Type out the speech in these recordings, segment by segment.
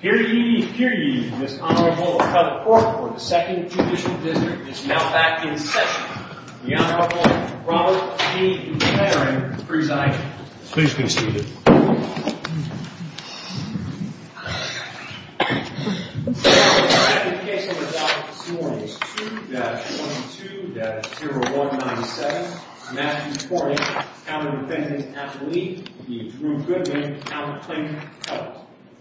Here ye, here ye, Ms. Honorable Heather Kornick for the 2nd Judicial District is now back in session. The Honorable Robert E. McLaren presiding. Please be seated. The second case on the docket this morning is 2-22-0197. Matthew Kornick, counter-defendant at the lead, v. Drew Goodman, counter-plaintiff at the house.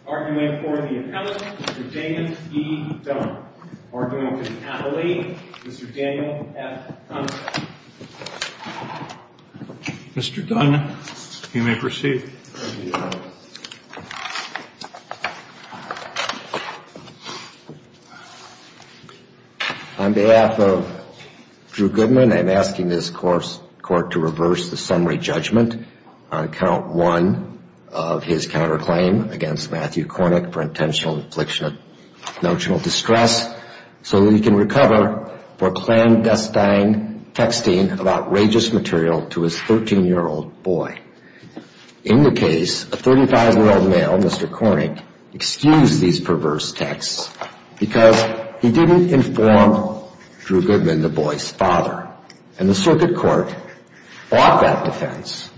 Arguing for the appellant, Mr. Daniel E. Dunn. Arguing for the appellate, Mr. Daniel F. Hunter. Mr. Dunn, you may proceed. On behalf of Drew Goodman, I'm asking this court to reverse the summary judgment on count 1 of his counterclaim against Matthew Kornick for intentional infliction of texting of outrageous material to his 13-year-old boy. In the case, a 35-year-old male, Mr. Kornick, excused these perverse texts because he didn't inform Drew Goodman, the boy's father. And the circuit court fought that defense,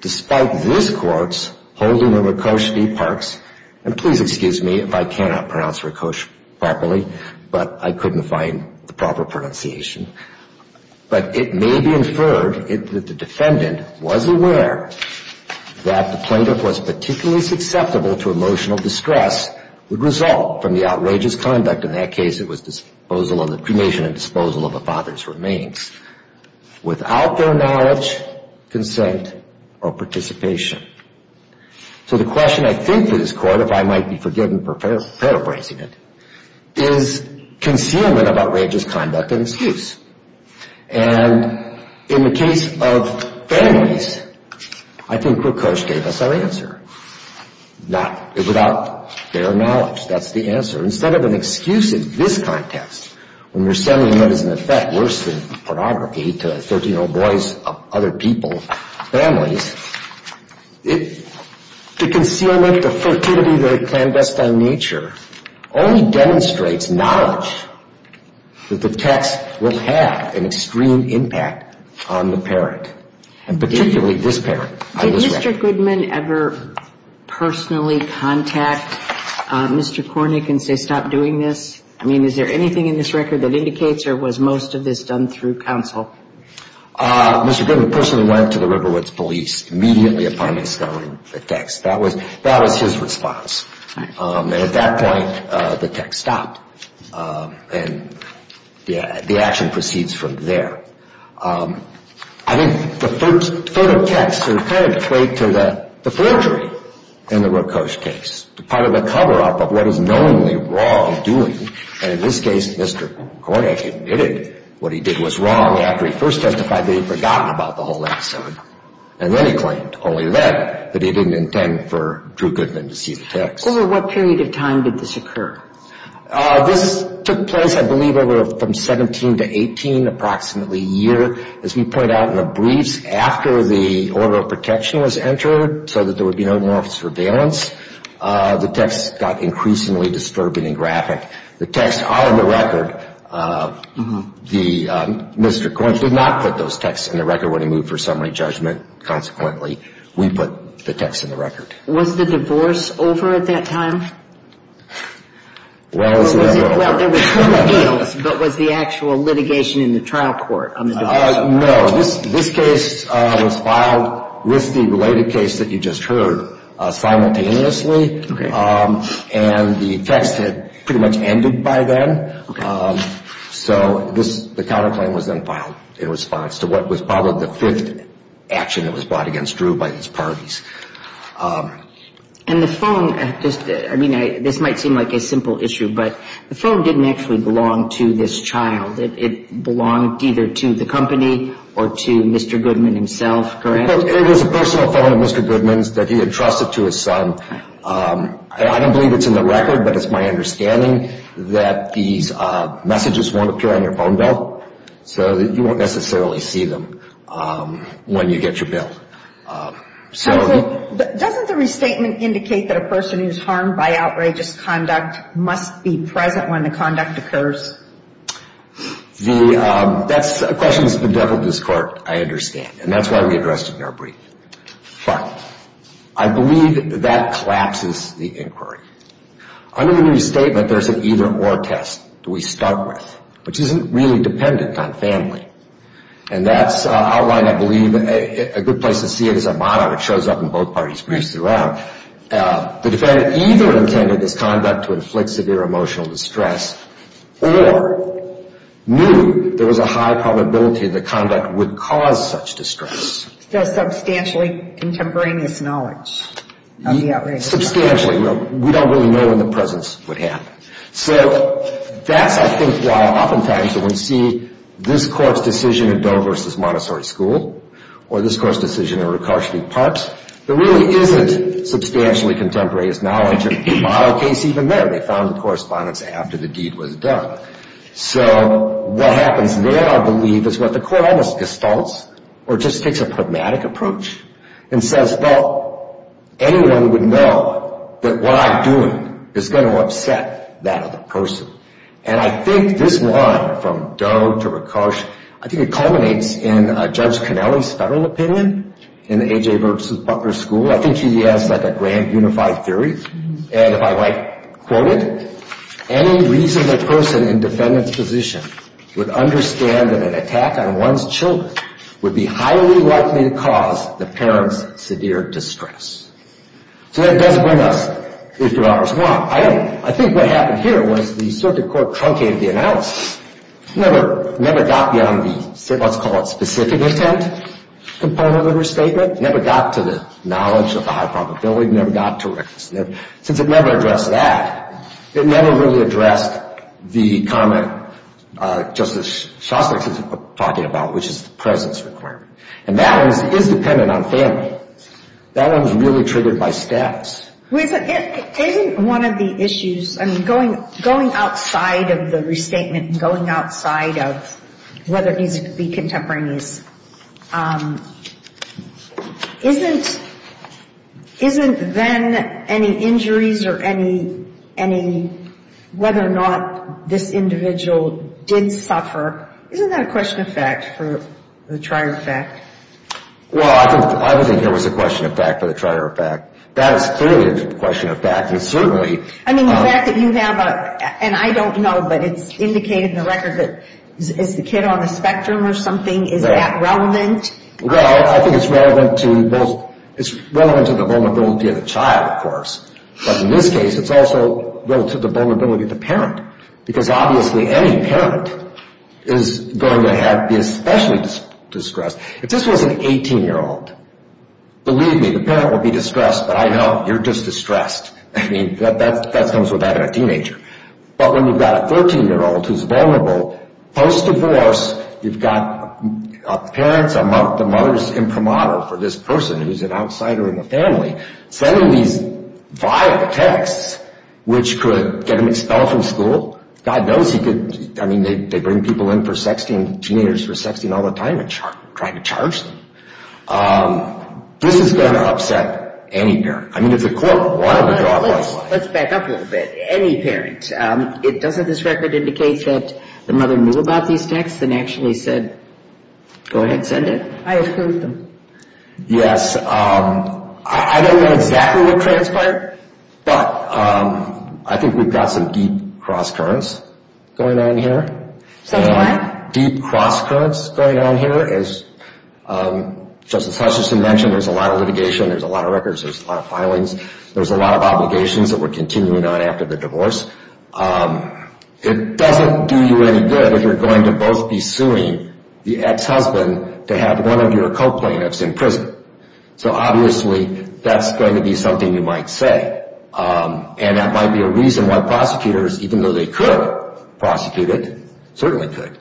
despite this court's holding of Rekosch v. Parks. And please excuse me if I cannot pronounce Rekosch properly, but I couldn't find the proper pronunciation. But it may be inferred that the defendant was aware that the plaintiff was particularly susceptible to emotional distress would result from the outrageous conduct. In that case, it was disposal of the father's remains without their knowledge, consent, or participation. So the question I think to this court, if I might be forgiven for paraphrasing it, is concealment of outrageous conduct and excuse. And in the case of families, I think Rekosch gave us our answer. Without their knowledge, that's the answer. Instead of an excuse in this context, when you're sending letters in effect, worse than pornography, to 13-year-old boys, other people, families, the concealment, the fertility, the clandestine nature only demonstrates knowledge that the text will have an extreme impact on the parent, and particularly this parent. Did Mr. Goodman ever personally contact Mr. Kornick and say stop doing this? I mean, is there anything in this record that indicates or was most of this done through counsel? Mr. Goodman personally went to the Riverwoods police immediately upon installing the text. That was his response. And at that point, the text stopped. And the action proceeds from there. I think the photo text is kind of a trait to the forgery in the Rekosch case. Part of the cover-up of what is knowingly wrong doing. And in this case, Mr. Kornick admitted what he did was wrong after he first testified that he'd forgotten about the whole episode. And then he claimed, only then, that he didn't intend for Drew Goodman to see the text. Over what period of time did this occur? This took place, I believe, over from 17 to 18, approximately a year. As we point out in the briefs, after the order of protection was entered so that there would be no more surveillance, the text got increasingly disturbing and graphic. The text are in the record. Mr. Kornick did not put those texts in the record when he moved for summary judgment. Consequently, we put the text in the record. Was the divorce over at that time? Well, there was formal deals, but was the actual litigation in the trial court on the divorce over? No. This case was filed with the related case that you just heard simultaneously. And the text had pretty much ended by then. So the counterclaim was then filed in response to what was probably the fifth action that was brought against Drew by his parties. And the phone, I mean, this might seem like a simple issue, but the phone didn't actually belong to this child. It belonged either to the company or to Mr. Goodman himself, correct? It was a personal phone of Mr. Goodman's that he had trusted to his son. I don't believe it's in the record, but it's my understanding that these messages won't appear on your phone bill. So you won't necessarily see them when you get your bill. Doesn't the restatement indicate that a person who's harmed by outrageous conduct must be present when the conduct occurs? The question has been dealt with this court, I understand. And that's why we addressed it in our brief. But I believe that collapses the inquiry. Under the restatement, there's an either or test that we start with, which isn't really dependent on family. And that's outlined, I believe, a good place to see it is a motto that shows up in both parties' briefs throughout. The defendant either intended this conduct to inflict severe emotional distress or knew there was a high probability the conduct would cause such distress. So substantially contemporaneous knowledge of the outrageous conduct. Substantially. We don't really know when the presence would happen. So that's, I think, why oftentimes when we see this court's decision in Doe v. Montessori School or this court's decision in Rutgers Park, there really isn't substantially contemporaneous knowledge. In my case, even there, they found the correspondence after the deed was done. So what happens there, I believe, is what the court either gestalts or just takes a pragmatic approach and says, well, anyone would know that what I'm doing is going to upset that other person. And I think this line from Doe to Rakosh, I think it culminates in Judge Connelly's federal opinion in the A.J. versus Butler School. I think she has like a grand unified theory. And if I might quote it, any reasonable person in defendant's position would understand that an attack on one's children would be highly likely to cause the parent's severe distress. So that does bring us to Doe v. Montessori. I think what happened here was the circuit court truncated the analysis, never got beyond the, let's call it, specific intent component of her statement, never got to the knowledge of the high probability, never got to, since it never addressed that, it never really addressed the comment Justice Shostak is talking about, which is the presence requirement. And that one is dependent on family. That one is really triggered by status. Isn't one of the issues, I mean, going outside of the restatement and going outside of whether it needs to be contemporaneous, isn't then any injuries or any, whether or not this individual did suffer, isn't that a question of fact for the trier of fact? Well, I don't think there was a question of fact for the trier of fact. That is clearly a question of fact. And certainly... I mean, the fact that you have a, and I don't know, but it's indicated in the record that, is the kid on the spectrum or something? Is that relevant? Well, I think it's relevant to both, it's relevant to the vulnerability of the child, of course. But in this case, it's also relative to the vulnerability of the parent. Because obviously any parent is going to be especially distressed. If this was an 18-year-old, believe me, the parent would be distressed, but I know, you're just distressed. I mean, that comes with having a teenager. But when you've got a 13-year-old who's vulnerable, post-divorce, you've got parents, the mother's imprimatur for this person who's an outsider in the family, sending these vile texts which could get him expelled from school. God knows he could, I mean, they bring people in for sexting, teenagers for sexting all the time, and try to charge them. This is going to upset any parent. I mean, if the court wanted to go out like that. Let's back up a little bit. Any parent. Doesn't this record indicate that the mother knew about these texts and actually said, go ahead, send it? I approve them. Yes. I don't know exactly what transpired, but I think we've got some deep cross-currents going on here. Some what? Deep cross-currents going on here. As Justice Hutchinson mentioned, there's a lot of litigation, there's a lot of records, there's a lot of filings, there's a lot of obligations that we're continuing on after the divorce. It doesn't do you any good if you're going to both be suing the ex-husband to have one of your co-plaintiffs in prison. So obviously, that's going to be something you might say. And that might be a reason why prosecutors, even though they could prosecute it, certainly could,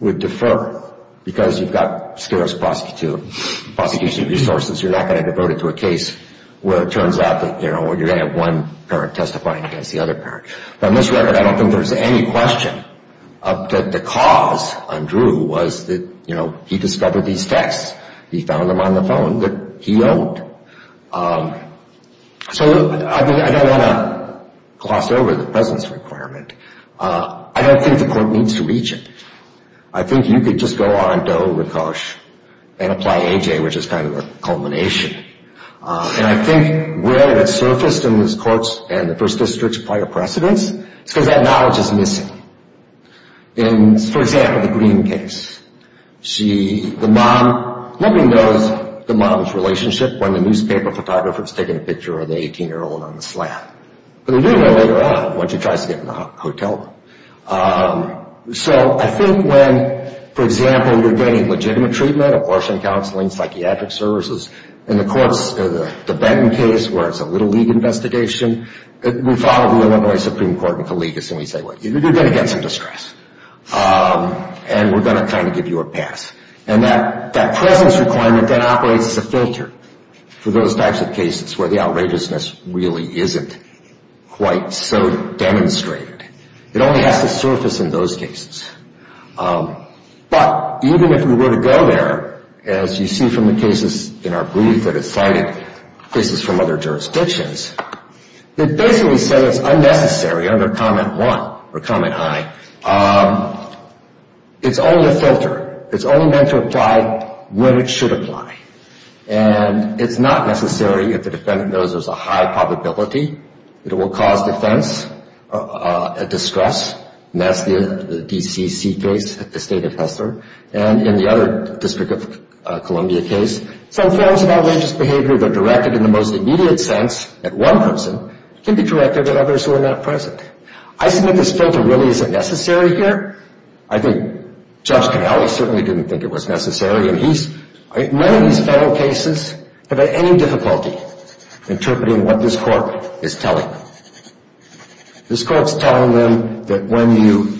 would defer. Because you've got scarce prosecution resources. You're not going to devote it to a case where it turns out that you're going to have one parent testifying against the other parent. From this record, I don't think there's any question that the cause, Andrew, was that he discovered these texts. He found them on the phone that he owned. So I don't want to gloss over the presence requirement. I don't think the court needs to reach it. I think you could just go on, doh, ricoche, and apply AJ, which is kind of a culmination. And I think where it surfaced in this court's and the first district's prior precedence is because that knowledge is missing. For example, the Green case. Nobody knows the mom's relationship when the newspaper photographer was taking a picture of the 18-year-old on the slab. But they do know later on when she tries to get in the hotel. So I think when, for example, you're getting legitimate treatment, abortion counseling, psychiatric services, and the courts, the Benton case where it's a little league investigation, we follow the Illinois Supreme Court and collegias and we say, wait, you're going to get some distress. And we're going to kind of give you a pass. And that presence requirement then operates as a filter for those types of cases where the outrageousness really isn't quite so demonstrated. It only has to surface in those cases. But even if we were to go there, as you see from the cases in our brief that are cited, cases from other jurisdictions, it basically says it's unnecessary under comment one or comment I. It's only a filter. It's only meant to apply when it should apply. And it's not necessary if the defendant knows there's a high probability that it will cause defense, a distress. And that's the DCC case at the State of Hester. And in the other District of Columbia case, some forms of outrageous behavior that are directed in the most immediate sense at one person can be directed at others who are not present. I submit this filter really isn't necessary here. I think Judge Pinelli certainly didn't think it was necessary. None of these federal cases have had any difficulty interpreting what this court is telling them. This court's telling them that when you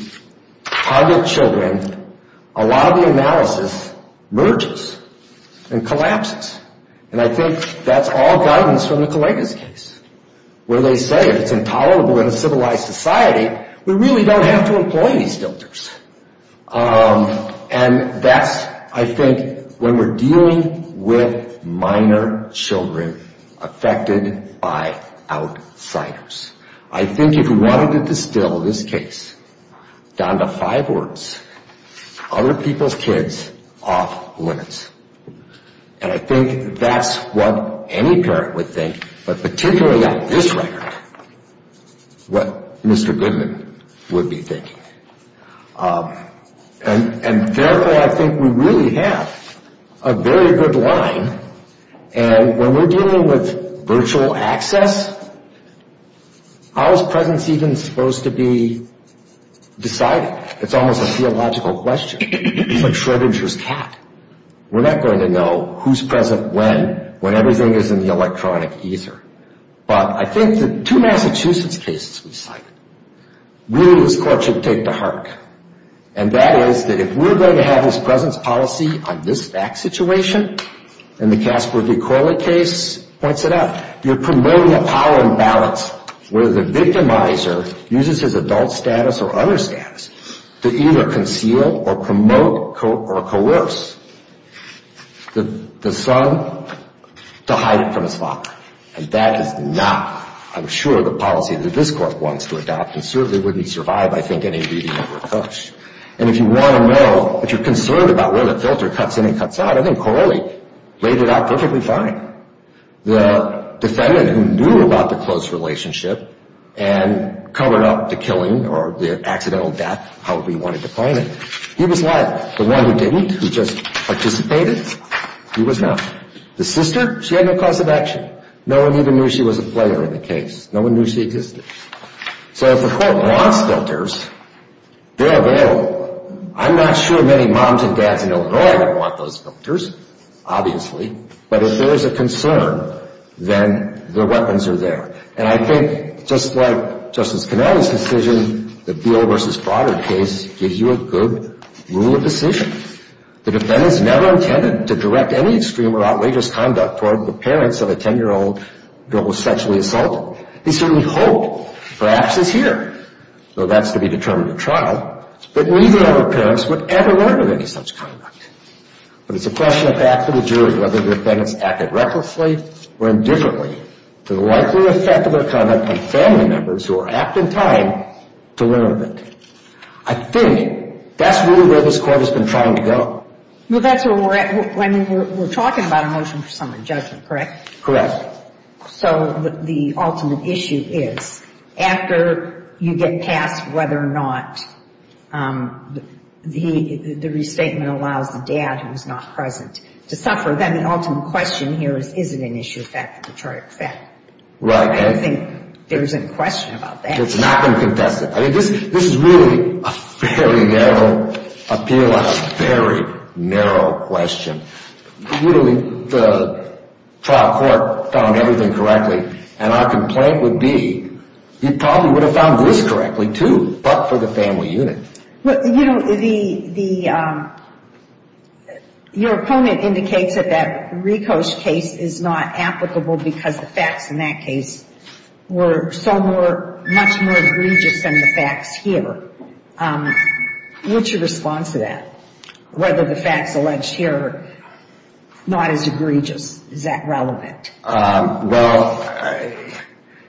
target children, a lot of the analysis merges and collapses. And I think that's all guidance from Nicoleta's case, where they say if it's intolerable in a civilized society, we really don't have to employ these filters. And that's, I think, when we're dealing with minor children affected by outsiders. I think if you wanted to distill this case down to five words, other people's kids off limits. And I think that's what any parent would think, but particularly on this record, what Mr. Goodman would be thinking. And therefore, I think we really have a very good line. And when we're dealing with virtual access, how is presence even supposed to be decided? It's almost a theological question. It's like Schrödinger's cat. We're not going to know who's present when, when everything is in the electronic ether. But I think the two Massachusetts cases we cited, really this court should take to heart. And that is that if we're going to have this presence policy on this back situation, and the Casper v. Corley case points it out, you're promoting a power imbalance where the victimizer uses his adult status or other status to either conceal or promote or coerce the son to hide it from his father. And that is not, I'm sure, the policy that this court wants to adopt and certainly wouldn't survive, I think, any reading of Rekosch. And if you want to know, if you're concerned about where the filter cuts in and cuts out, I think Corley laid it out perfectly fine. The defendant who knew about the close relationship and covered up the killing or the accidental death however he wanted to claim it, he was not the one who didn't, who just participated. He was not. The sister, she had no cause of action. No one even knew she was a player in the case. No one knew she existed. So if the court wants filters, they're available. I'm not sure many moms and dads in Illinois would want those filters, obviously. But if there is a concern, then the weapons are there. And I think just like Justice Cannelly's decision, the Beal v. Broderick case gives you a good rule of decision. The defendant's never intended to direct any extreme or outrageous conduct toward the parents of a 10-year-old girl who was sexually assaulted. He certainly hoped, perhaps this year, though that's to be determined at trial, that neither of her parents would ever learn of any such conduct. But it's a question of back to the jury, whether the defendant's acted recklessly or indifferently to the likely effect of their conduct on family members who are apt in time to learn of it. I think that's really where this court has been trying to go. Well, that's where we're at when we're talking about a motion for summary judgment, correct? Correct. So the ultimate issue is, after you get past whether or not the restatement allows the dad, who is not present, to suffer, then the ultimate question here is, is it an issue of fact or detritic fact? Right. I don't think there's any question about that. It's not going to contest it. I mean, this is really a very narrow appeal on a very narrow question. Clearly, the trial court found everything correctly, and our complaint would be you probably would have found this correctly, too, but for the family unit. Well, you know, your opponent indicates that that Rico's case is not applicable because the facts in that case were so much more egregious than the facts here. What's your response to that, whether the facts alleged here are not as egregious? Is that relevant? Well,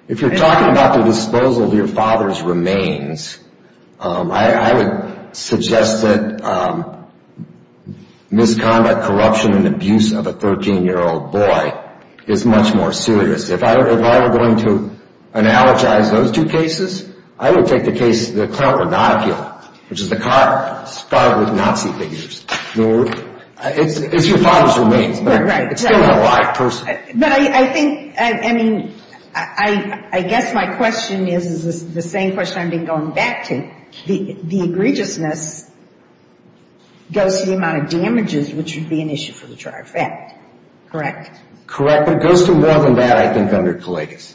if you're talking about the disposal of your father's remains, I would suggest that misconduct, corruption, and abuse of a 13-year-old boy is much more serious. If I were going to analogize those two cases, I would take the case of the Clarence Rodonchio, which is the car spotted with Nazi figures. It's your father's remains, but it's still a live person. But I think, I mean, I guess my question is the same question I've been going back to. The egregiousness goes to the amount of damages, which would be an issue for the trial effect. Correct? Correct, but it goes to more than that, I think, under Kalegas.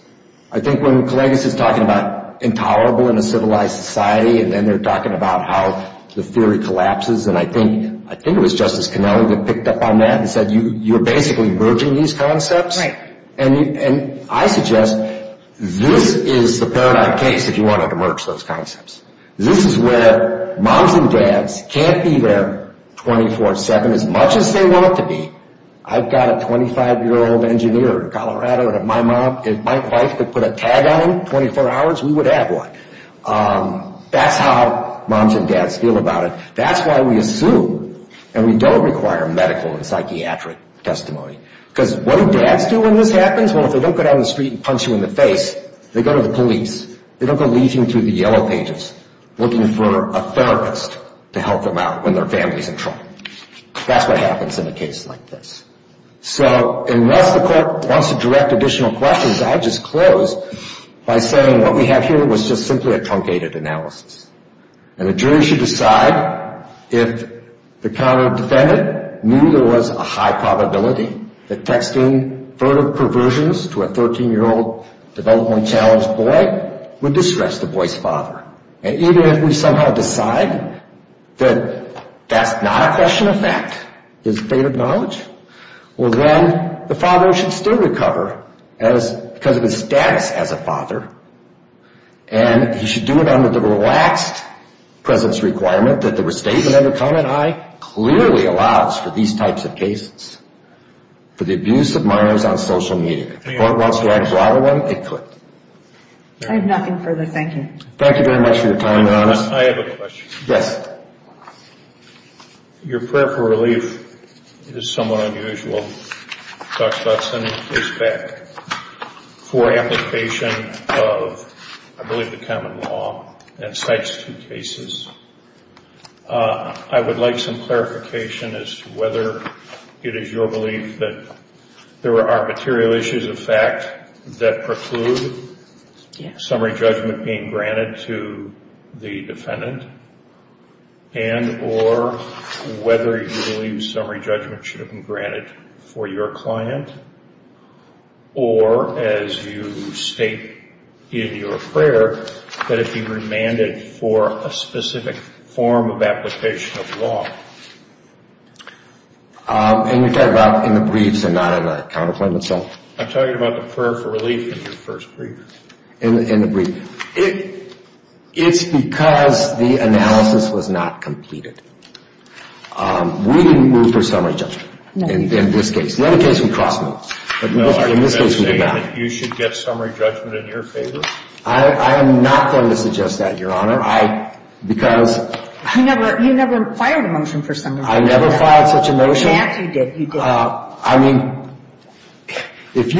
I think when Kalegas is talking about intolerable in a civilized society and then they're talking about how the theory collapses, and I think it was Justice Connelly that picked up on that and said, you're basically merging these concepts. Right. And I suggest this is the paradigm case if you wanted to merge those concepts. This is where moms and dads can't be there 24-7 as much as they want to be. I've got a 25-year-old engineer in Colorado, and if my wife could put a tag on him 24 hours, we would have one. That's how moms and dads feel about it. That's why we assume, and we don't require medical and psychiatric testimony, because what do dads do when this happens? Well, if they don't go down the street and punch you in the face, they go to the police. They don't go leeching through the Yellow Pages looking for a therapist to help them out when their family's in trouble. That's what happens in a case like this. So unless the court wants to direct additional questions, I'll just close by saying what we have here was just simply a truncated analysis. And a jury should decide if the counter-defendant knew there was a high probability that texting further perversions to a 13-year-old developmentally challenged boy would distress the boy's father. And even if we somehow decide that that's not a question of fact, his fate of knowledge, well, then the father should still recover because of his status as a father, and he should do it under the relaxed presence requirement that the restatement under comment I clearly allows for these types of cases, for the abuse of minors on social media. If the court wants to add to either one, it could. I have nothing further. Thank you. Thank you very much for your time, Your Honor. I have a question. Yes. Your prayer for relief is somewhat unusual. Dr. Dotson is back. For application of, I believe, the common law and types of cases, I would like some clarification as to whether it is your belief that there are material issues of fact that preclude summary judgment being granted to the defendant, and or whether you believe summary judgment should have been granted for your client, or as you state in your prayer, that it be remanded for a specific form of application of law. And you're talking about in the briefs and not in the counterclaim itself? I'm talking about the prayer for relief in your first brief. In the brief. It's because the analysis was not completed. We didn't move for summary judgment in this case. In other cases, we cross-moved. But in this case, we did not. You should get summary judgment in your favor? I am not going to suggest that, Your Honor, because You never filed a motion for summary judgment. I never filed such a motion. Yes, you did. I mean, if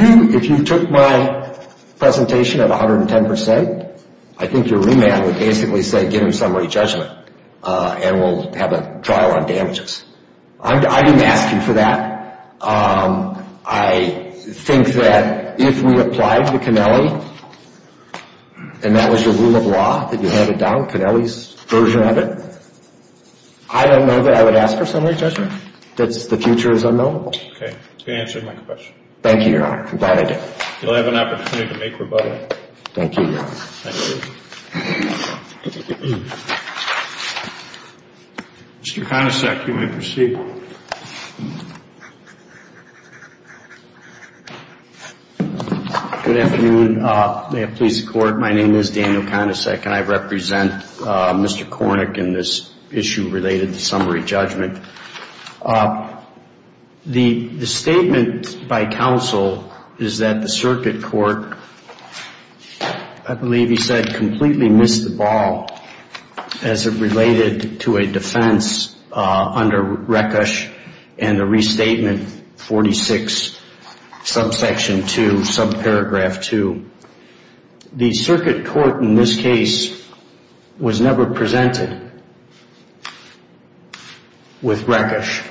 you took my presentation at 110 percent, I think your remand would basically say give him summary judgment, and we'll have a trial on damages. I didn't ask you for that. I think that if we applied to Cannelli, and that was your rule of law that you handed down, Cannelli's version of it, I don't know that I would ask for summary judgment. The future is unknowable. Okay. Good answer to my question. Thank you, Your Honor. I'm glad I did. You'll have an opportunity to make rebuttal. Thank you, Your Honor. Thank you. Mr. Konisek, you may proceed. Good afternoon. May it please the Court, my name is Daniel Konisek, and I represent Mr. Kornick in this issue related to summary judgment. The statement by counsel is that the circuit court, I believe he said, completely missed the ball as it related to a defense under Rekosch and the restatement 46, subsection 2, subparagraph 2. The circuit court in this case was never presented with Rekosch.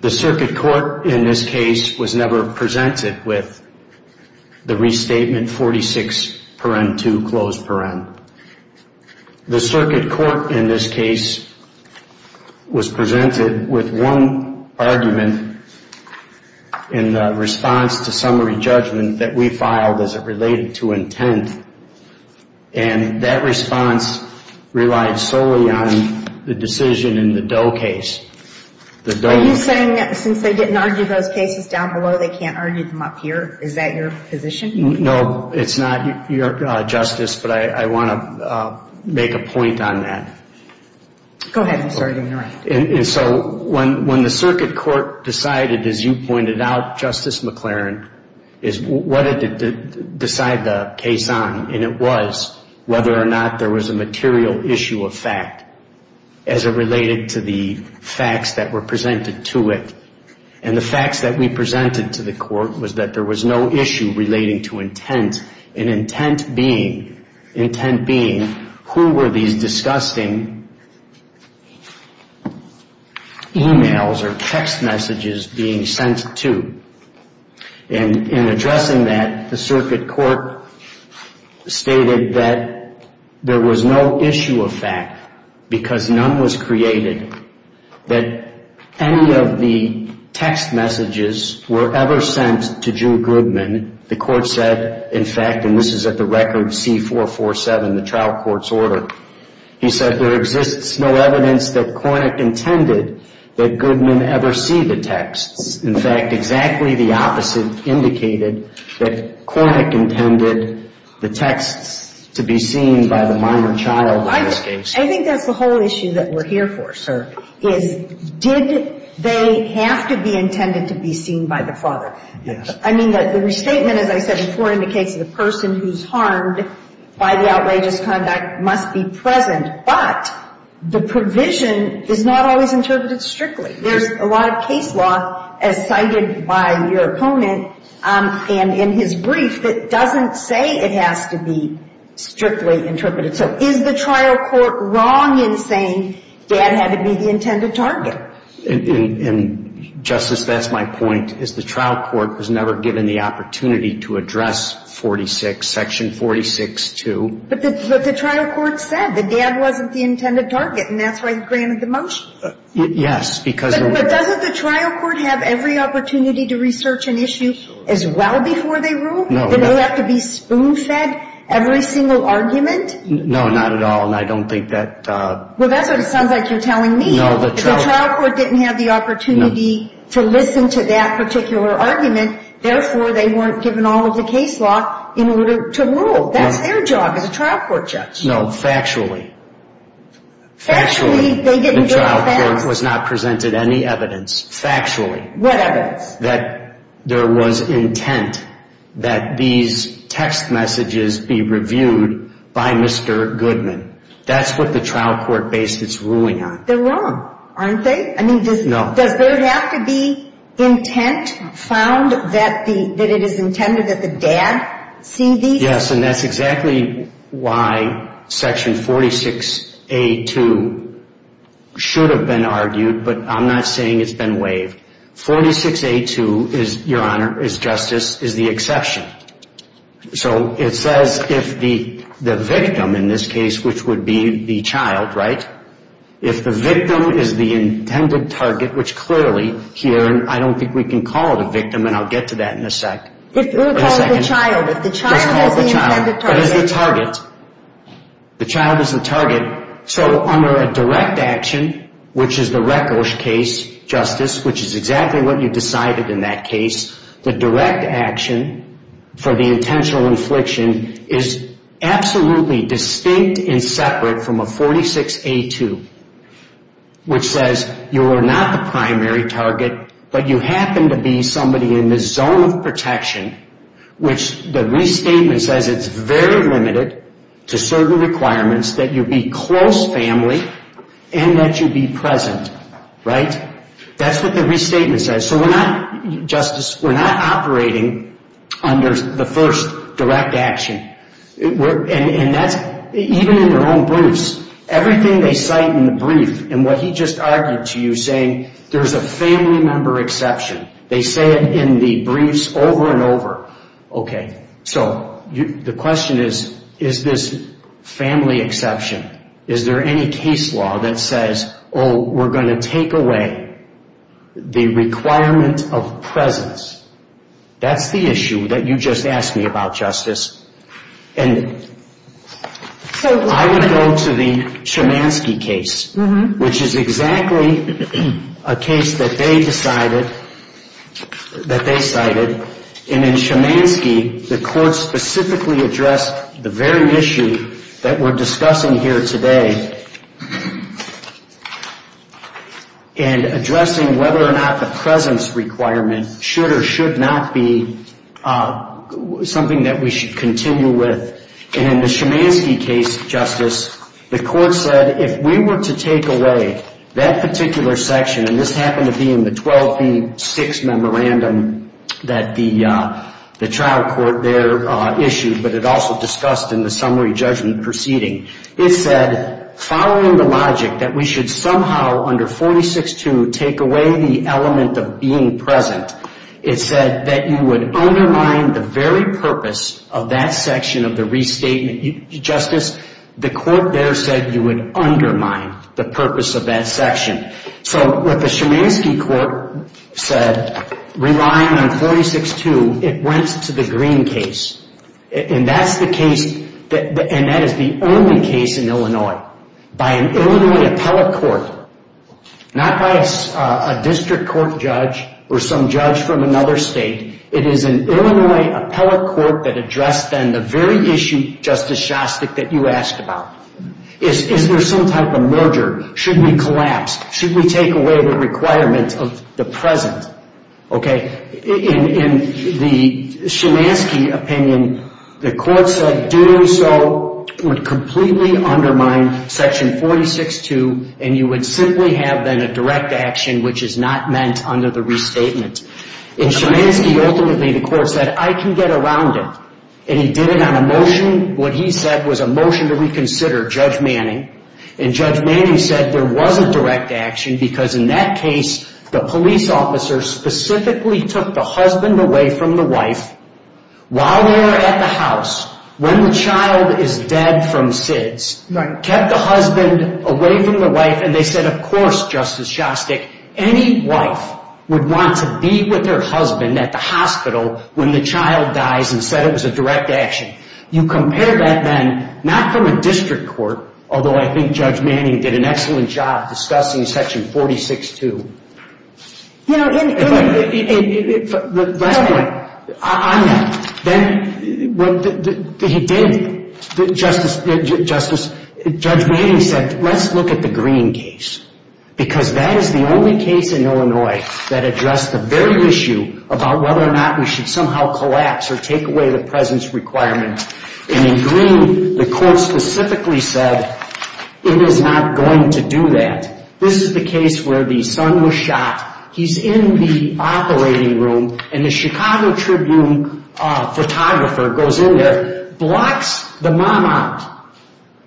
The circuit court in this case was never presented with the restatement 46, paragraph 2, closed paragraph. The circuit court in this case was presented with one argument in response to summary judgment that we filed as it related to intent, and that response relied solely on the decision in the Doe case. Are you saying that since they didn't argue those cases down below, they can't argue them up here? Is that your position? No, it's not, Your Justice, but I want to make a point on that. Go ahead. I'm sorry to interrupt. When the circuit court decided, as you pointed out, Justice McLaren, what did it decide the case on, and it was whether or not there was a material issue of fact as it related to the facts that were presented to it. And the facts that we presented to the court was that there was no issue relating to intent, and intent being, who were these disgusting e-mails or text messages being sent to. And in addressing that, the circuit court stated that there was no issue of fact because none was created that any of the text messages were ever sent to Drew Goodman. And the court said, in fact, and this is at the record C447, the trial court's order, he said there exists no evidence that Kornick intended that Goodman ever see the texts. In fact, exactly the opposite indicated that Kornick intended the texts to be seen by the minor child in this case. I think that's the whole issue that we're here for, sir, is did they have to be intended to be seen by the father? Yes. I mean, the restatement, as I said before, indicates the person who's harmed by the outrageous conduct must be present, but the provision is not always interpreted strictly. There's a lot of case law, as cited by your opponent in his brief, that doesn't say it has to be strictly interpreted. So is the trial court wrong in saying Dad had to be the intended target? And, Justice, that's my point, is the trial court was never given the opportunity to address 46, Section 46-2. But the trial court said that Dad wasn't the intended target, and that's why he granted the motion. Yes, because the ---- But doesn't the trial court have every opportunity to research an issue as well before they rule? No. Did it have to be spoon-fed every single argument? No, not at all. And I don't think that ---- Well, that's what it sounds like you're telling me. No, the trial ---- The trial court didn't have the opportunity to listen to that particular argument, therefore they weren't given all of the case law in order to rule. That's their job as a trial court judge. No, factually. Factually, the trial court was not presented any evidence. Factually. What evidence? That there was intent that these text messages be reviewed by Mr. Goodman. That's what the trial court based its ruling on. They're wrong, aren't they? No. I mean, does there have to be intent found that it is intended that the dad see these? Yes, and that's exactly why Section 46A2 should have been argued, but I'm not saying it's been waived. 46A2, Your Honor, is justice, is the exception. So it says if the victim in this case, which would be the child, right? If the victim is the intended target, which clearly here, and I don't think we can call it a victim, and I'll get to that in a sec. We'll call it the child. Just call it the child. The child is the intended target. That is the target. The child is the target. So under a direct action, which is the Rekosh case, Justice, which is exactly what you decided in that case, the direct action for the intentional infliction is absolutely distinct and separate from a 46A2, which says you are not the primary target, but you happen to be somebody in the zone of protection, which the restatement says it's very limited to certain requirements that you be close family and that you be present. Right? That's what the restatement says. So we're not, Justice, we're not operating under the first direct action. And that's, even in their own briefs, everything they cite in the brief, and what he just argued to you, saying there's a family member exception. They say it in the briefs over and over. Okay. So the question is, is this family exception? Is there any case law that says, oh, we're going to take away the requirement of presence? That's the issue that you just asked me about, Justice. And I would go to the Chemansky case, which is exactly a case that they decided, that they cited. And in Chemansky, the court specifically addressed the very issue that we're discussing here today, and addressing whether or not the presence requirement should or should not be something that we should continue with. And in the Chemansky case, Justice, the court said if we were to take away that particular section, and this happened to be in the 12B-6 memorandum that the trial court there issued, but it also discussed in the summary judgment proceeding. It said, following the logic that we should somehow, under 46-2, take away the element of being present, it said that you would undermine the very purpose of that section of the restatement. Justice, the court there said you would undermine the purpose of that section. So what the Chemansky court said, relying on 46-2, it went to the Green case. And that's the case, and that is the only case in Illinois. By an Illinois appellate court, not by a district court judge or some judge from another state, it is an Illinois appellate court that addressed then the very issue, Justice Shostak, that you asked about. Is there some type of merger? Should we collapse? Should we take away the requirement of the present? In the Chemansky opinion, the court said doing so would completely undermine section 46-2, and you would simply have then a direct action which is not meant under the restatement. In Chemansky, ultimately, the court said I can get around it, and he did it on a motion. What he said was a motion to reconsider Judge Manning, and Judge Manning said there was a direct action because in that case, the police officer specifically took the husband away from the wife while they were at the house when the child is dead from SIDS. Kept the husband away from the wife, and they said, of course, Justice Shostak, any wife would want to be with her husband at the hospital when the child dies and said it was a direct action. You compare that then, not from a district court, although I think Judge Manning did an excellent job discussing section 46-2. You know, in Illinois, Last point, on that, then what he did, Justice Manning said let's look at the Green case because that is the only case in Illinois that addressed the very issue about whether or not we should somehow collapse or take away the presence requirement, and in Green, the court specifically said it is not going to do that. This is the case where the son was shot. He's in the operating room, and the Chicago Tribune photographer goes in there, blocks the mom out,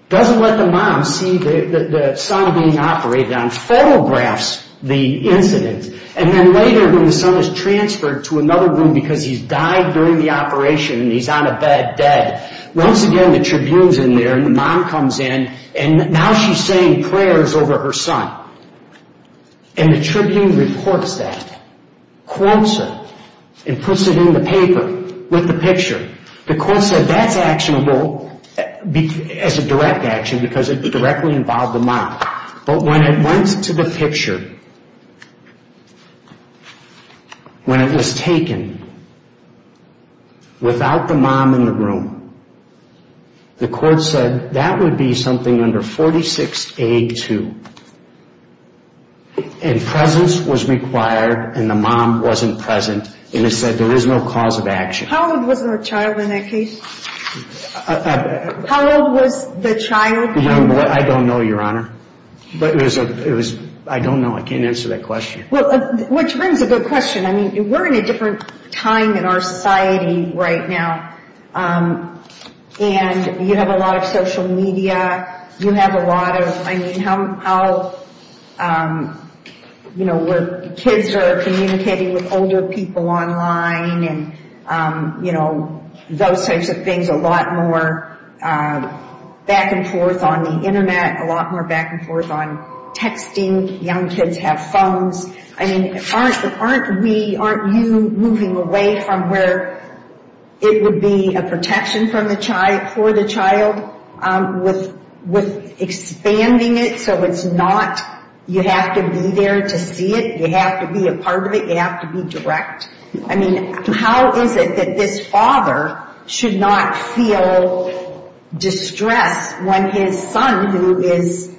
doesn't let the mom see the son being operated on, photographs the incident, and then later when the son is transferred to another room because he's died during the operation and he's on a bed dead, once again, the Tribune's in there, and the mom comes in, and now she's saying prayers over her son, and the Tribune reports that, quotes her, and puts it in the paper with the picture. The court said that's actionable as a direct action because it directly involved the mom, but when it went to the picture, when it was taken without the mom in the room, the court said that would be something under 46A2, and presence was required and the mom wasn't present, and it said there is no cause of action. How old was the child in that case? How old was the child? I don't know, Your Honor. I don't know. I can't answer that question. Which brings a good question. I mean, we're in a different time in our society right now, and you have a lot of social media. You have a lot of, I mean, how, you know, where kids are communicating with older people online, and, you know, those types of things, a lot more back and forth on the Internet, a lot more back and forth on texting. Young kids have phones. I mean, aren't we, aren't you moving away from where it would be a protection for the child with expanding it so it's not you have to be there to see it, you have to be a part of it, you have to be direct? I mean, how is it that this father should not feel distress when his son, who is,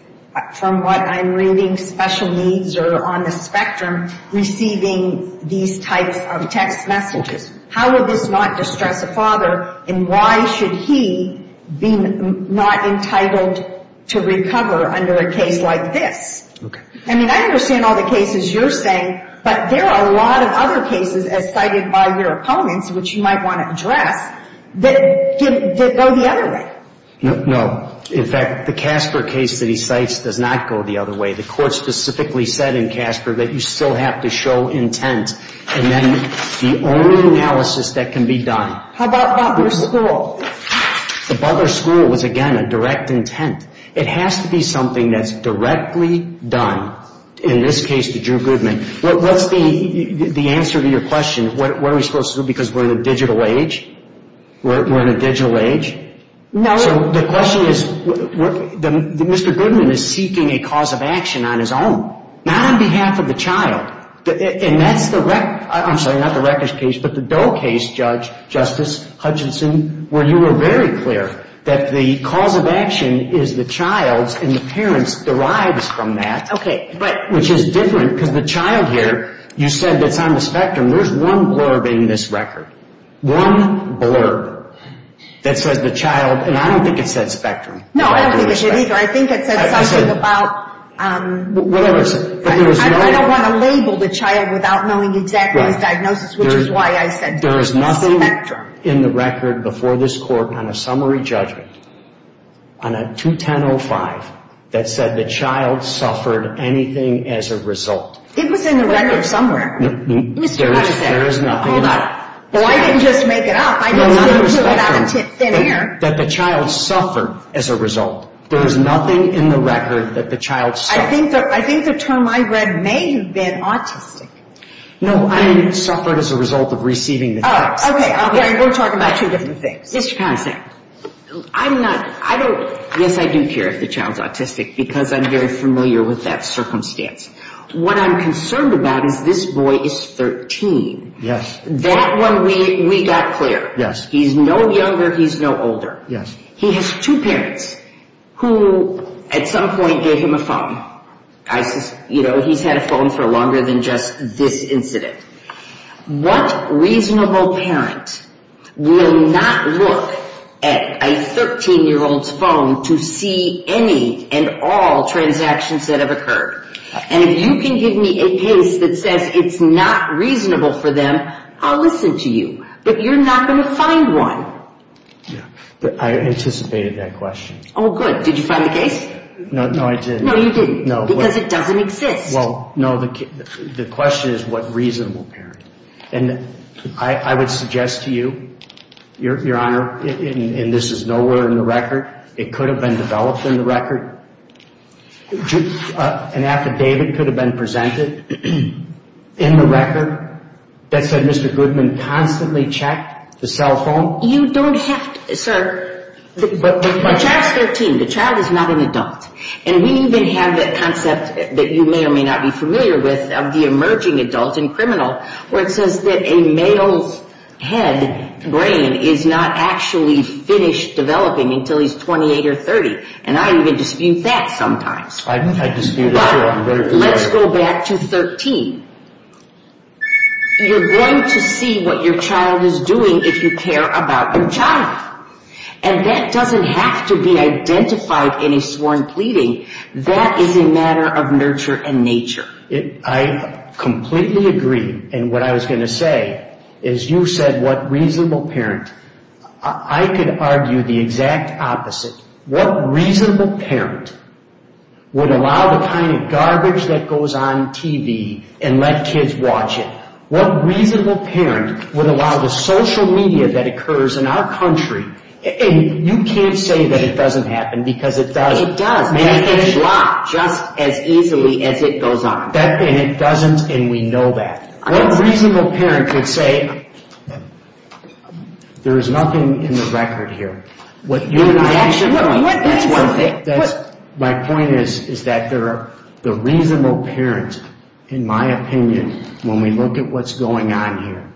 from what I'm reading, special needs or on the spectrum, receiving these types of text messages? How would this not distress a father, and why should he be not entitled to recover under a case like this? Okay. I mean, I understand all the cases you're saying, but there are a lot of other cases as cited by your opponents, which you might want to address, that go the other way. No. In fact, the Casper case that he cites does not go the other way. The court specifically said in Casper that you still have to show intent, and then the only analysis that can be done. How about Bubber School? The Bubber School was, again, a direct intent. It has to be something that's directly done, in this case to Drew Goodman. What's the answer to your question, what are we supposed to do because we're in a digital age? We're in a digital age? No. So the question is, Mr. Goodman is seeking a cause of action on his own, not on behalf of the child. And that's the wreck, I'm sorry, not the wreckage case, but the Doe case, Justice Hutchinson, where you were very clear that the cause of action is the child's and the parent's derives from that, which is different because the child here, you said that's on the spectrum. There's one blurb in this record, one blurb that says the child, and I don't think it said spectrum. No, I don't think it did either. I think it said something about, I don't want to label the child without knowing exactly his diagnosis, which is why I said spectrum. There was nothing in the record before this court on a summary judgment, on a 210-05, that said the child suffered anything as a result. It was in the record somewhere. There is nothing. Well, I didn't just make it up. I didn't say it without thin air. That the child suffered as a result. There is nothing in the record that the child suffered. I think the term I read may have been autistic. No, I mean it suffered as a result of receiving the text. Okay. We're talking about two different things. Mr. Consant, I'm not, I don't, yes, I do care if the child's autistic because I'm very familiar with that circumstance. What I'm concerned about is this boy is 13. Yes. That one we got clear. Yes. He's no younger. He's no older. Yes. He has two parents who at some point gave him a phone. You know, he's had a phone for longer than just this incident. What reasonable parent will not look at a 13-year-old's phone to see any and all transactions that have occurred? And if you can give me a case that says it's not reasonable for them, I'll listen to you. But you're not going to find one. I anticipated that question. Oh, good. Did you find the case? No, I didn't. No, you didn't. Because it doesn't exist. Well, no, the question is what reasonable parent. And I would suggest to you, Your Honor, and this is nowhere in the record, it could have been developed in the record, an affidavit could have been presented in the record that said Mr. Goodman constantly checked the cell phone. You don't have to, sir. The child is not an adult. And we even have that concept that you may or may not be familiar with of the emerging adult in criminal where it says that a male's head, brain, is not actually finished developing until he's 28 or 30. And I even dispute that sometimes. I dispute it, too. I'm very clear. But let's go back to 13. You're going to see what your child is doing if you care about your child. And that doesn't have to be identified in a sworn pleading. That is a matter of nurture and nature. I completely agree. And what I was going to say is you said what reasonable parent. I could argue the exact opposite. What reasonable parent would allow the kind of garbage that goes on TV and let kids watch it? What reasonable parent would allow the social media that occurs in our country? And you can't say that it doesn't happen because it does. It does. And it can drop just as easily as it goes on. And it doesn't, and we know that. What reasonable parent could say, there is nothing in the record here? What you and I disagree on, that's one thing. My point is that there are the reasonable parents, in my opinion, when we look at what's going on here.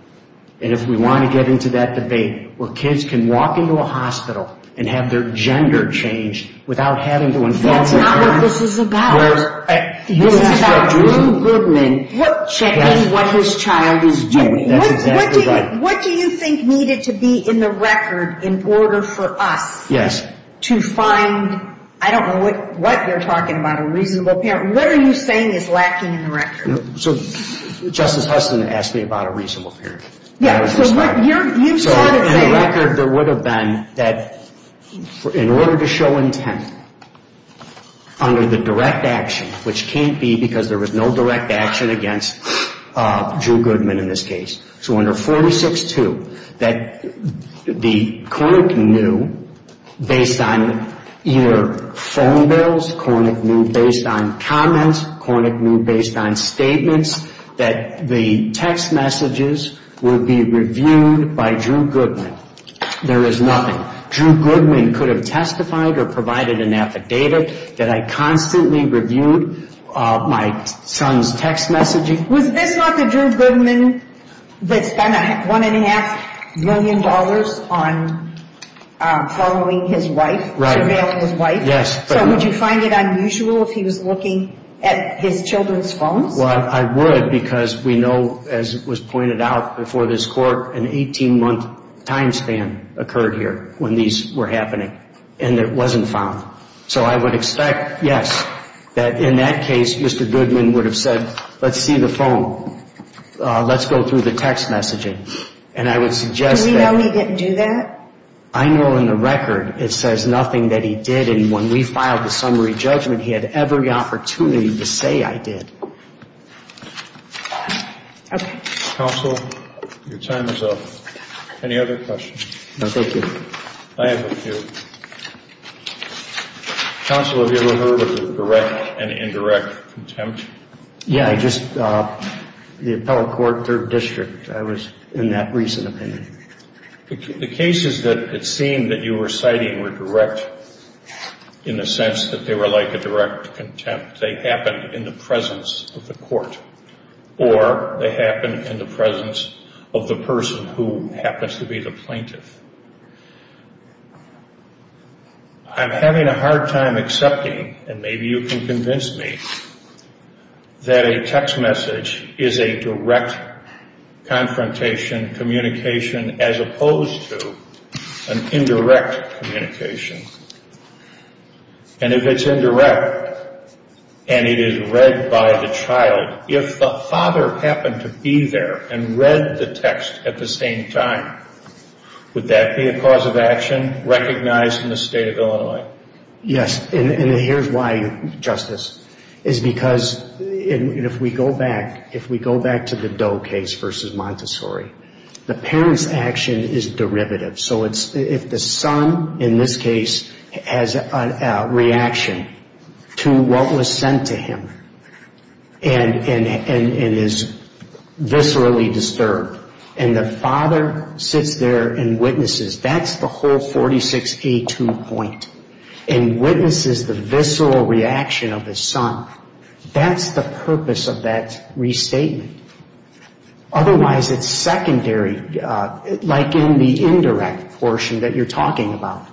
And if we want to get into that debate where kids can walk into a hospital and have their gender changed without having to involve their parents. That's not what this is about. This is about Drew Goodman checking what his child is doing. That's exactly right. What do you think needed to be in the record in order for us to find, I don't know what you're talking about, a reasonable parent. What are you saying is lacking in the record? Justice Huston asked me about a reasonable parent. In the record there would have been that in order to show intent under the direct action, which can't be because there was no direct action against Drew Goodman in this case. So under 46-2, that the court knew based on either phone bills, court knew based on comments, court knew based on statements that the text messages would be reviewed by Drew Goodman. There is nothing. Drew Goodman could have testified or provided an affidavit that I constantly reviewed my son's text messaging. Was this not the Drew Goodman that spent $1.5 million on following his wife, surveilling his wife? Yes. So would you find it unusual if he was looking at his children's phones? Well, I would because we know, as was pointed out before this court, an 18-month time span occurred here when these were happening and it wasn't found. So I would expect, yes, that in that case Mr. Goodman would have said, let's see the phone. Let's go through the text messaging. And I would suggest that. Does he know he didn't do that? I know in the record it says nothing that he did. And when we filed the summary judgment, he had every opportunity to say I did. Okay. Counsel, your time is up. Any other questions? No, thank you. I have a few. Counsel, have you ever heard of a direct and indirect contempt? Yeah, I just, the Appellate Court, Third District, I was in that recent opinion. The cases that it seemed that you were citing were direct in the sense that they were like a direct contempt. They happened in the presence of the court. Or they happened in the presence of the person who happens to be the plaintiff. I'm having a hard time accepting, and maybe you can convince me, that a text message is a direct confrontation, communication, as opposed to an indirect communication. And if it's indirect, and it is read by the child, if the father happened to be there and read the text at the same time, would that be a cause of action recognized in the state of Illinois? Yes. And here's why, Justice. Is because, and if we go back, if we go back to the Doe case versus Montessori, the parent's action is derivative. So if the son, in this case, has a reaction to what was sent to him and is viscerally disturbed, and the father sits there and witnesses, that's the whole 46A2 point, and witnesses the visceral reaction of his son, that's the purpose of that restatement. Otherwise, it's secondary, like in the indirect portion that you're talking about.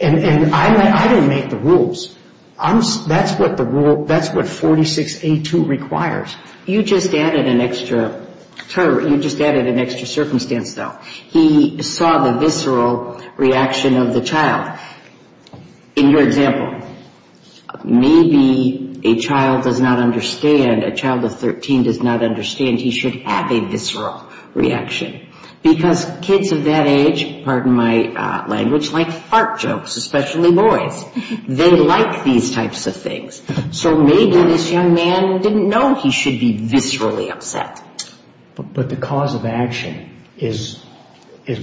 And I don't make the rules. That's what the rule, that's what 46A2 requires. You just added an extra circumstance, though. He saw the visceral reaction of the child. In your example, maybe a child does not understand, a child of 13 does not understand he should have a visceral reaction. Because kids of that age, pardon my language, like fart jokes, especially boys. They like these types of things. So maybe this young man didn't know he should be viscerally upset. But the cause of action is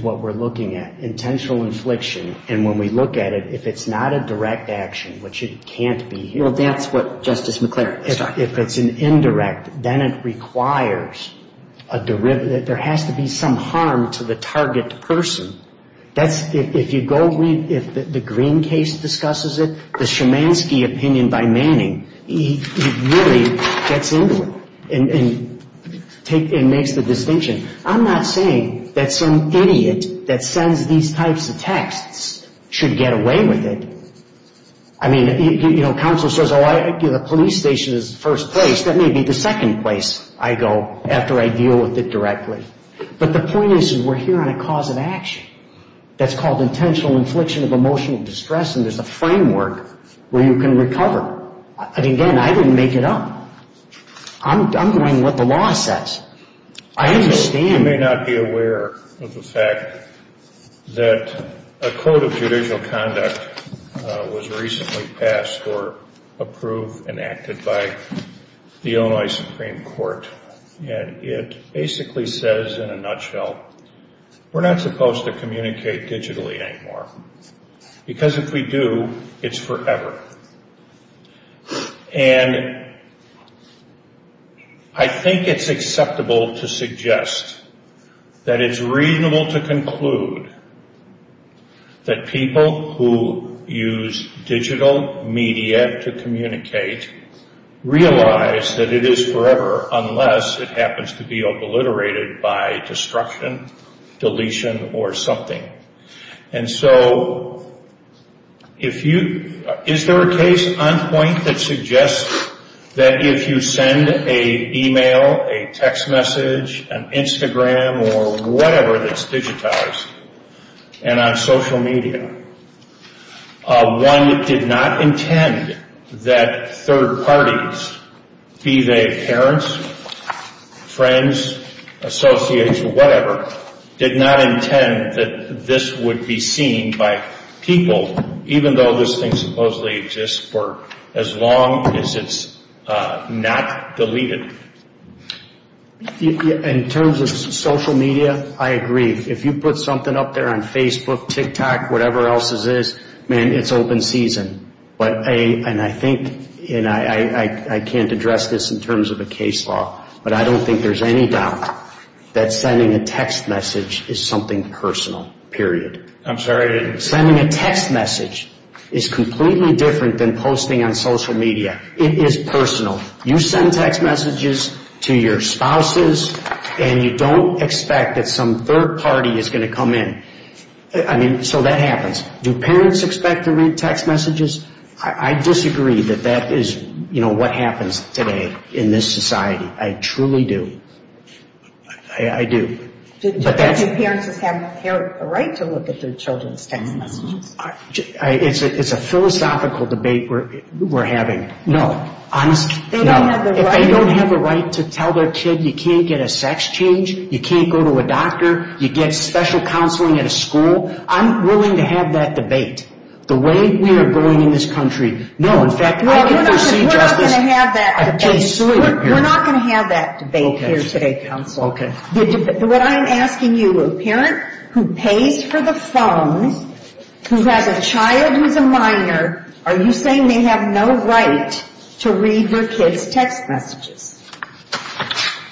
what we're looking at. And when we look at it, if it's not a direct action, which it can't be. Well, that's what Justice McClaren is talking about. If it's an indirect, then it requires a derivative. There has to be some harm to the target person. If you go read, if the Green case discusses it, the Shemansky opinion by Manning, it really gets into it and makes the distinction. I'm not saying that some idiot that sends these types of texts should get away with it. I mean, you know, counsel says, oh, the police station is first place. That may be the second place I go after I deal with it directly. But the point is we're here on a cause of action. That's called intentional infliction of emotional distress, and there's a framework where you can recover. And again, I didn't make it up. I'm doing what the law says. I assume you may not be aware of the fact that a code of judicial conduct was recently passed or approved and acted by the Illinois Supreme Court. And it basically says, in a nutshell, we're not supposed to communicate digitally anymore. Because if we do, it's forever. And I think it's acceptable to suggest that it's reasonable to conclude that people who use digital media to communicate realize that it is forever unless it happens to be obliterated by destruction, deletion, or something. And so is there a case on point that suggests that if you send an email, a text message, an Instagram, or whatever that's digitized, and on social media, one did not intend that third parties, be they parents, friends, associates, or whatever, did not intend that this would be seen by people, even though this thing supposedly exists for as long as it's not deleted? In terms of social media, I agree. If you put something up there on Facebook, TikTok, whatever else this is, man, it's open season. And I think, and I can't address this in terms of a case law, but I don't think there's any doubt that sending a text message is something personal, period. I'm sorry? Sending a text message is completely different than posting on social media. It is personal. You send text messages to your spouses, and you don't expect that some third party is going to come in. I mean, so that happens. Do parents expect to read text messages? I disagree that that is what happens today in this society. I truly do. I do. Do parents have a right to look at their children's text messages? It's a philosophical debate we're having. No. If they don't have a right to tell their kid you can't get a sex change, you can't go to a doctor, you get special counseling at a school, I'm willing to have that debate. The way we are going in this country, no, in fact, I can't see justice. We're not going to have that debate. We're not going to have that debate here today, counsel. Okay. What I'm asking you, a parent who pays for the phone, who has a child who's a minor, are you saying they have no right to read their kid's text messages?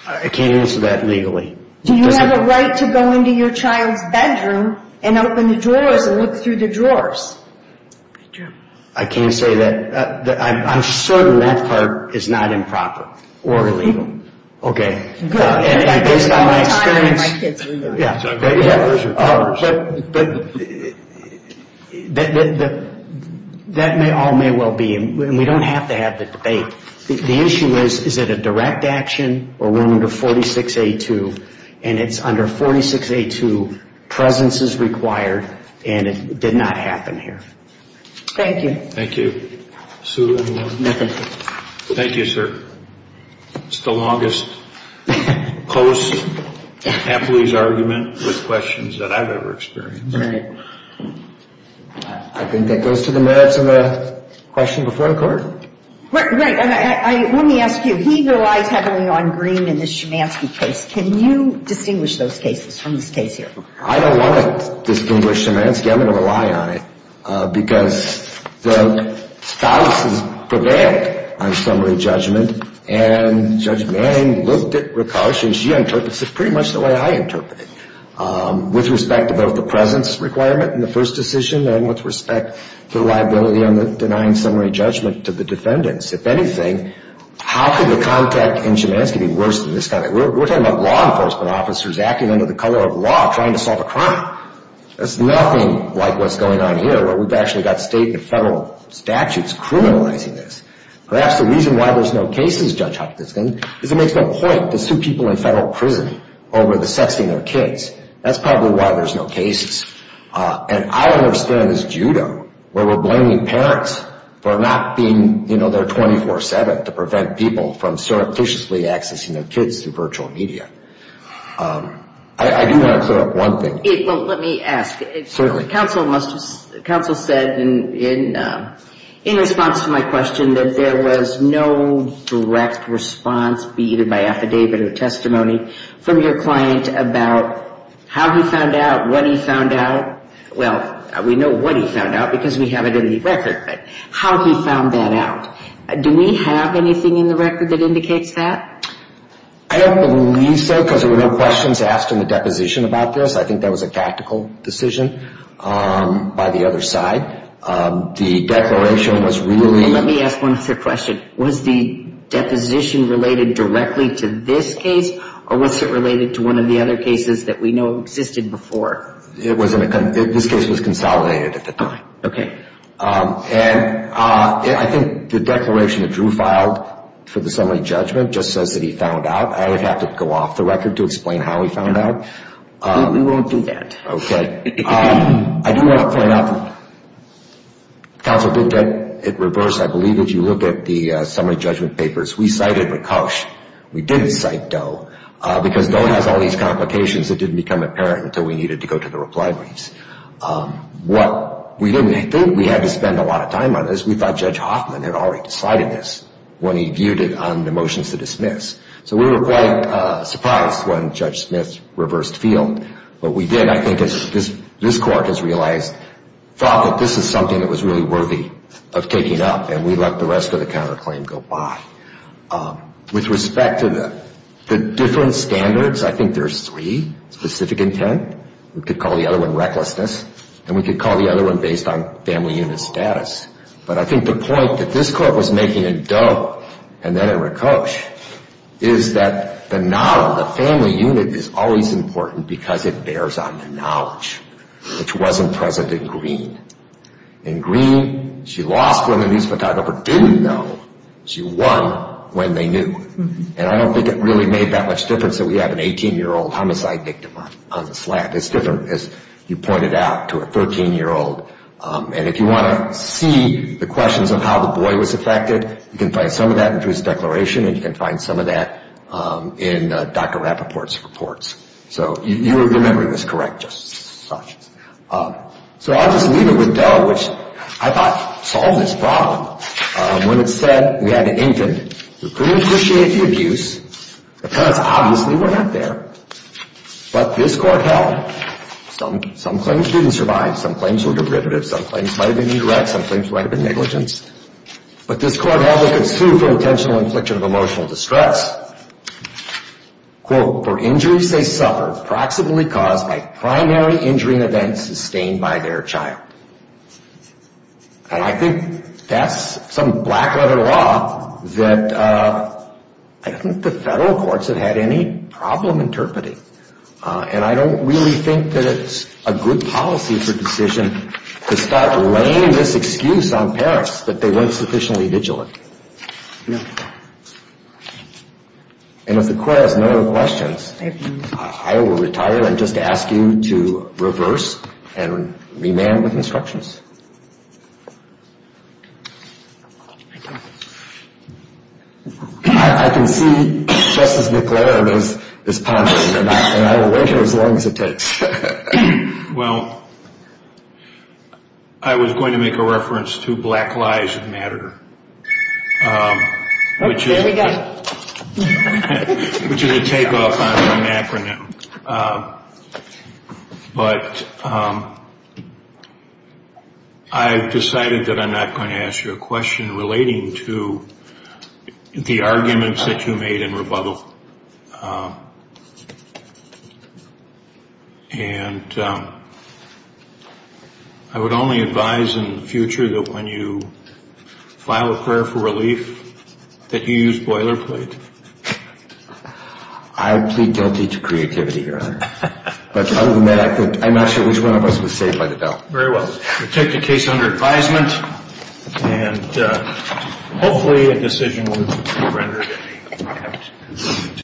I can't answer that legally. Do you have a right to go into your child's bedroom and open the drawers and look through the drawers? I can't say that. I'm certain that part is not improper or illegal. Okay. Good. Based on my experience. The only time my kids were doing it. But that all may well be, and we don't have to have the debate. The issue is, is it a direct action, or we're under 46A2, and it's under 46A2, presence is required, and it did not happen here. Thank you. Thank you. Sue, anything? Nothing. Thank you, sir. It's the longest, close, capitalist argument with questions that I've ever experienced. All right. I think that goes to the merits of the question before the court. Right. Let me ask you, he relies heavily on Green in this Schumanski case. Can you distinguish those cases from this case here? I don't want to distinguish Schumanski. I'm going to rely on it because the spouses prevailed on summary judgment, and Judge Manning looked at Rakosh, and she interprets it pretty much the way I interpret it, with respect to both the presence requirement in the first decision and with respect to the liability on the denying summary judgment to the defendants. If anything, how could the contact in Schumanski be worse than this kind of thing? We're talking about law enforcement officers acting under the color of law trying to solve a crime. That's nothing like what's going on here, where we've actually got state and federal statutes criminalizing this. Perhaps the reason why there's no cases, Judge Hopkins, is it makes no point to sue people in federal prison over the sexting of kids. That's probably why there's no cases. And I understand this judo where we're blaming parents for not being there 24-7 to prevent people from surreptitiously accessing their kids through virtual media. I do want to clear up one thing. Well, let me ask. Certainly. Counsel said in response to my question that there was no direct response, be it in my affidavit or testimony, from your client about how he found out, what he found out. Well, we know what he found out because we have it in the record, but how he found that out. Do we have anything in the record that indicates that? I don't believe so because there were no questions asked in the deposition about this. I think that was a tactical decision by the other side. The declaration was really... Let me ask one other question. Was the deposition related directly to this case or was it related to one of the other cases that we know existed before? This case was consolidated at the time. Okay. And I think the declaration that Drew filed for the summary judgment just says that he found out. I would have to go off the record to explain how he found out. We won't do that. Okay. I do want to point out that counsel did get it reversed, I believe, as you look at the summary judgment papers. We cited Rakosh. We didn't cite Doe because Doe has all these complications that didn't become apparent until we needed to go to the reply briefs. We didn't think we had to spend a lot of time on this. We thought Judge Hoffman had already decided this when he viewed it on the motions to dismiss. So we were quite surprised when Judge Smith reversed field. What we did, I think, as this Court has realized, thought that this is something that was really worthy of taking up, and we let the rest of the counterclaim go by. With respect to the different standards, I think there's three, specific intent. We could call the other one recklessness, and we could call the other one based on family unit status. But I think the point that this Court was making in Doe and then in Rakosh is that the knowledge, the family unit, is always important because it bears on the knowledge, which wasn't present in Green. In Green, she lost when the news photographer didn't know. She won when they knew. And I don't think it really made that much difference that we have an 18-year-old homicide victim on the slab. It's different, as you pointed out, to a 13-year-old. And if you want to see the questions of how the boy was affected, you can find some of that in his declaration, and you can find some of that in Dr. Rappaport's reports. So your memory was correct, just such. So I'll just leave it with Doe, which I thought solved this problem. When it said we had an infant, we pretty much appreciated the abuse because obviously we're not there. But this Court held. Some claims didn't survive. Some claims were derivative. Some claims might have been indirect. Some claims might have been negligence. But this Court held it could sue for intentional infliction of emotional distress. And I think that's some black-letter law that I think the federal courts have had any problem interpreting. And I don't really think that it's a good policy for decision to start laying this excuse on parents that they weren't sufficiently vigilant. And if the Court has no other questions, I will retire and just ask you to reverse and remand with instructions. I can see Justice McClaren is pondering, and I will wait here as long as it takes. Well, I was going to make a reference to Black Lives Matter. Oh, there we go. Which is a takeoff on the acronym. But I've decided that I'm not going to ask you a question relating to the arguments that you made in rebuttal. And I would only advise in the future that when you file a prayer for relief that you use boilerplate. I plead guilty to creativity, Your Honor. But other than that, I'm not sure which one of us was saved by the bell. Very well. We'll take the case under advisement.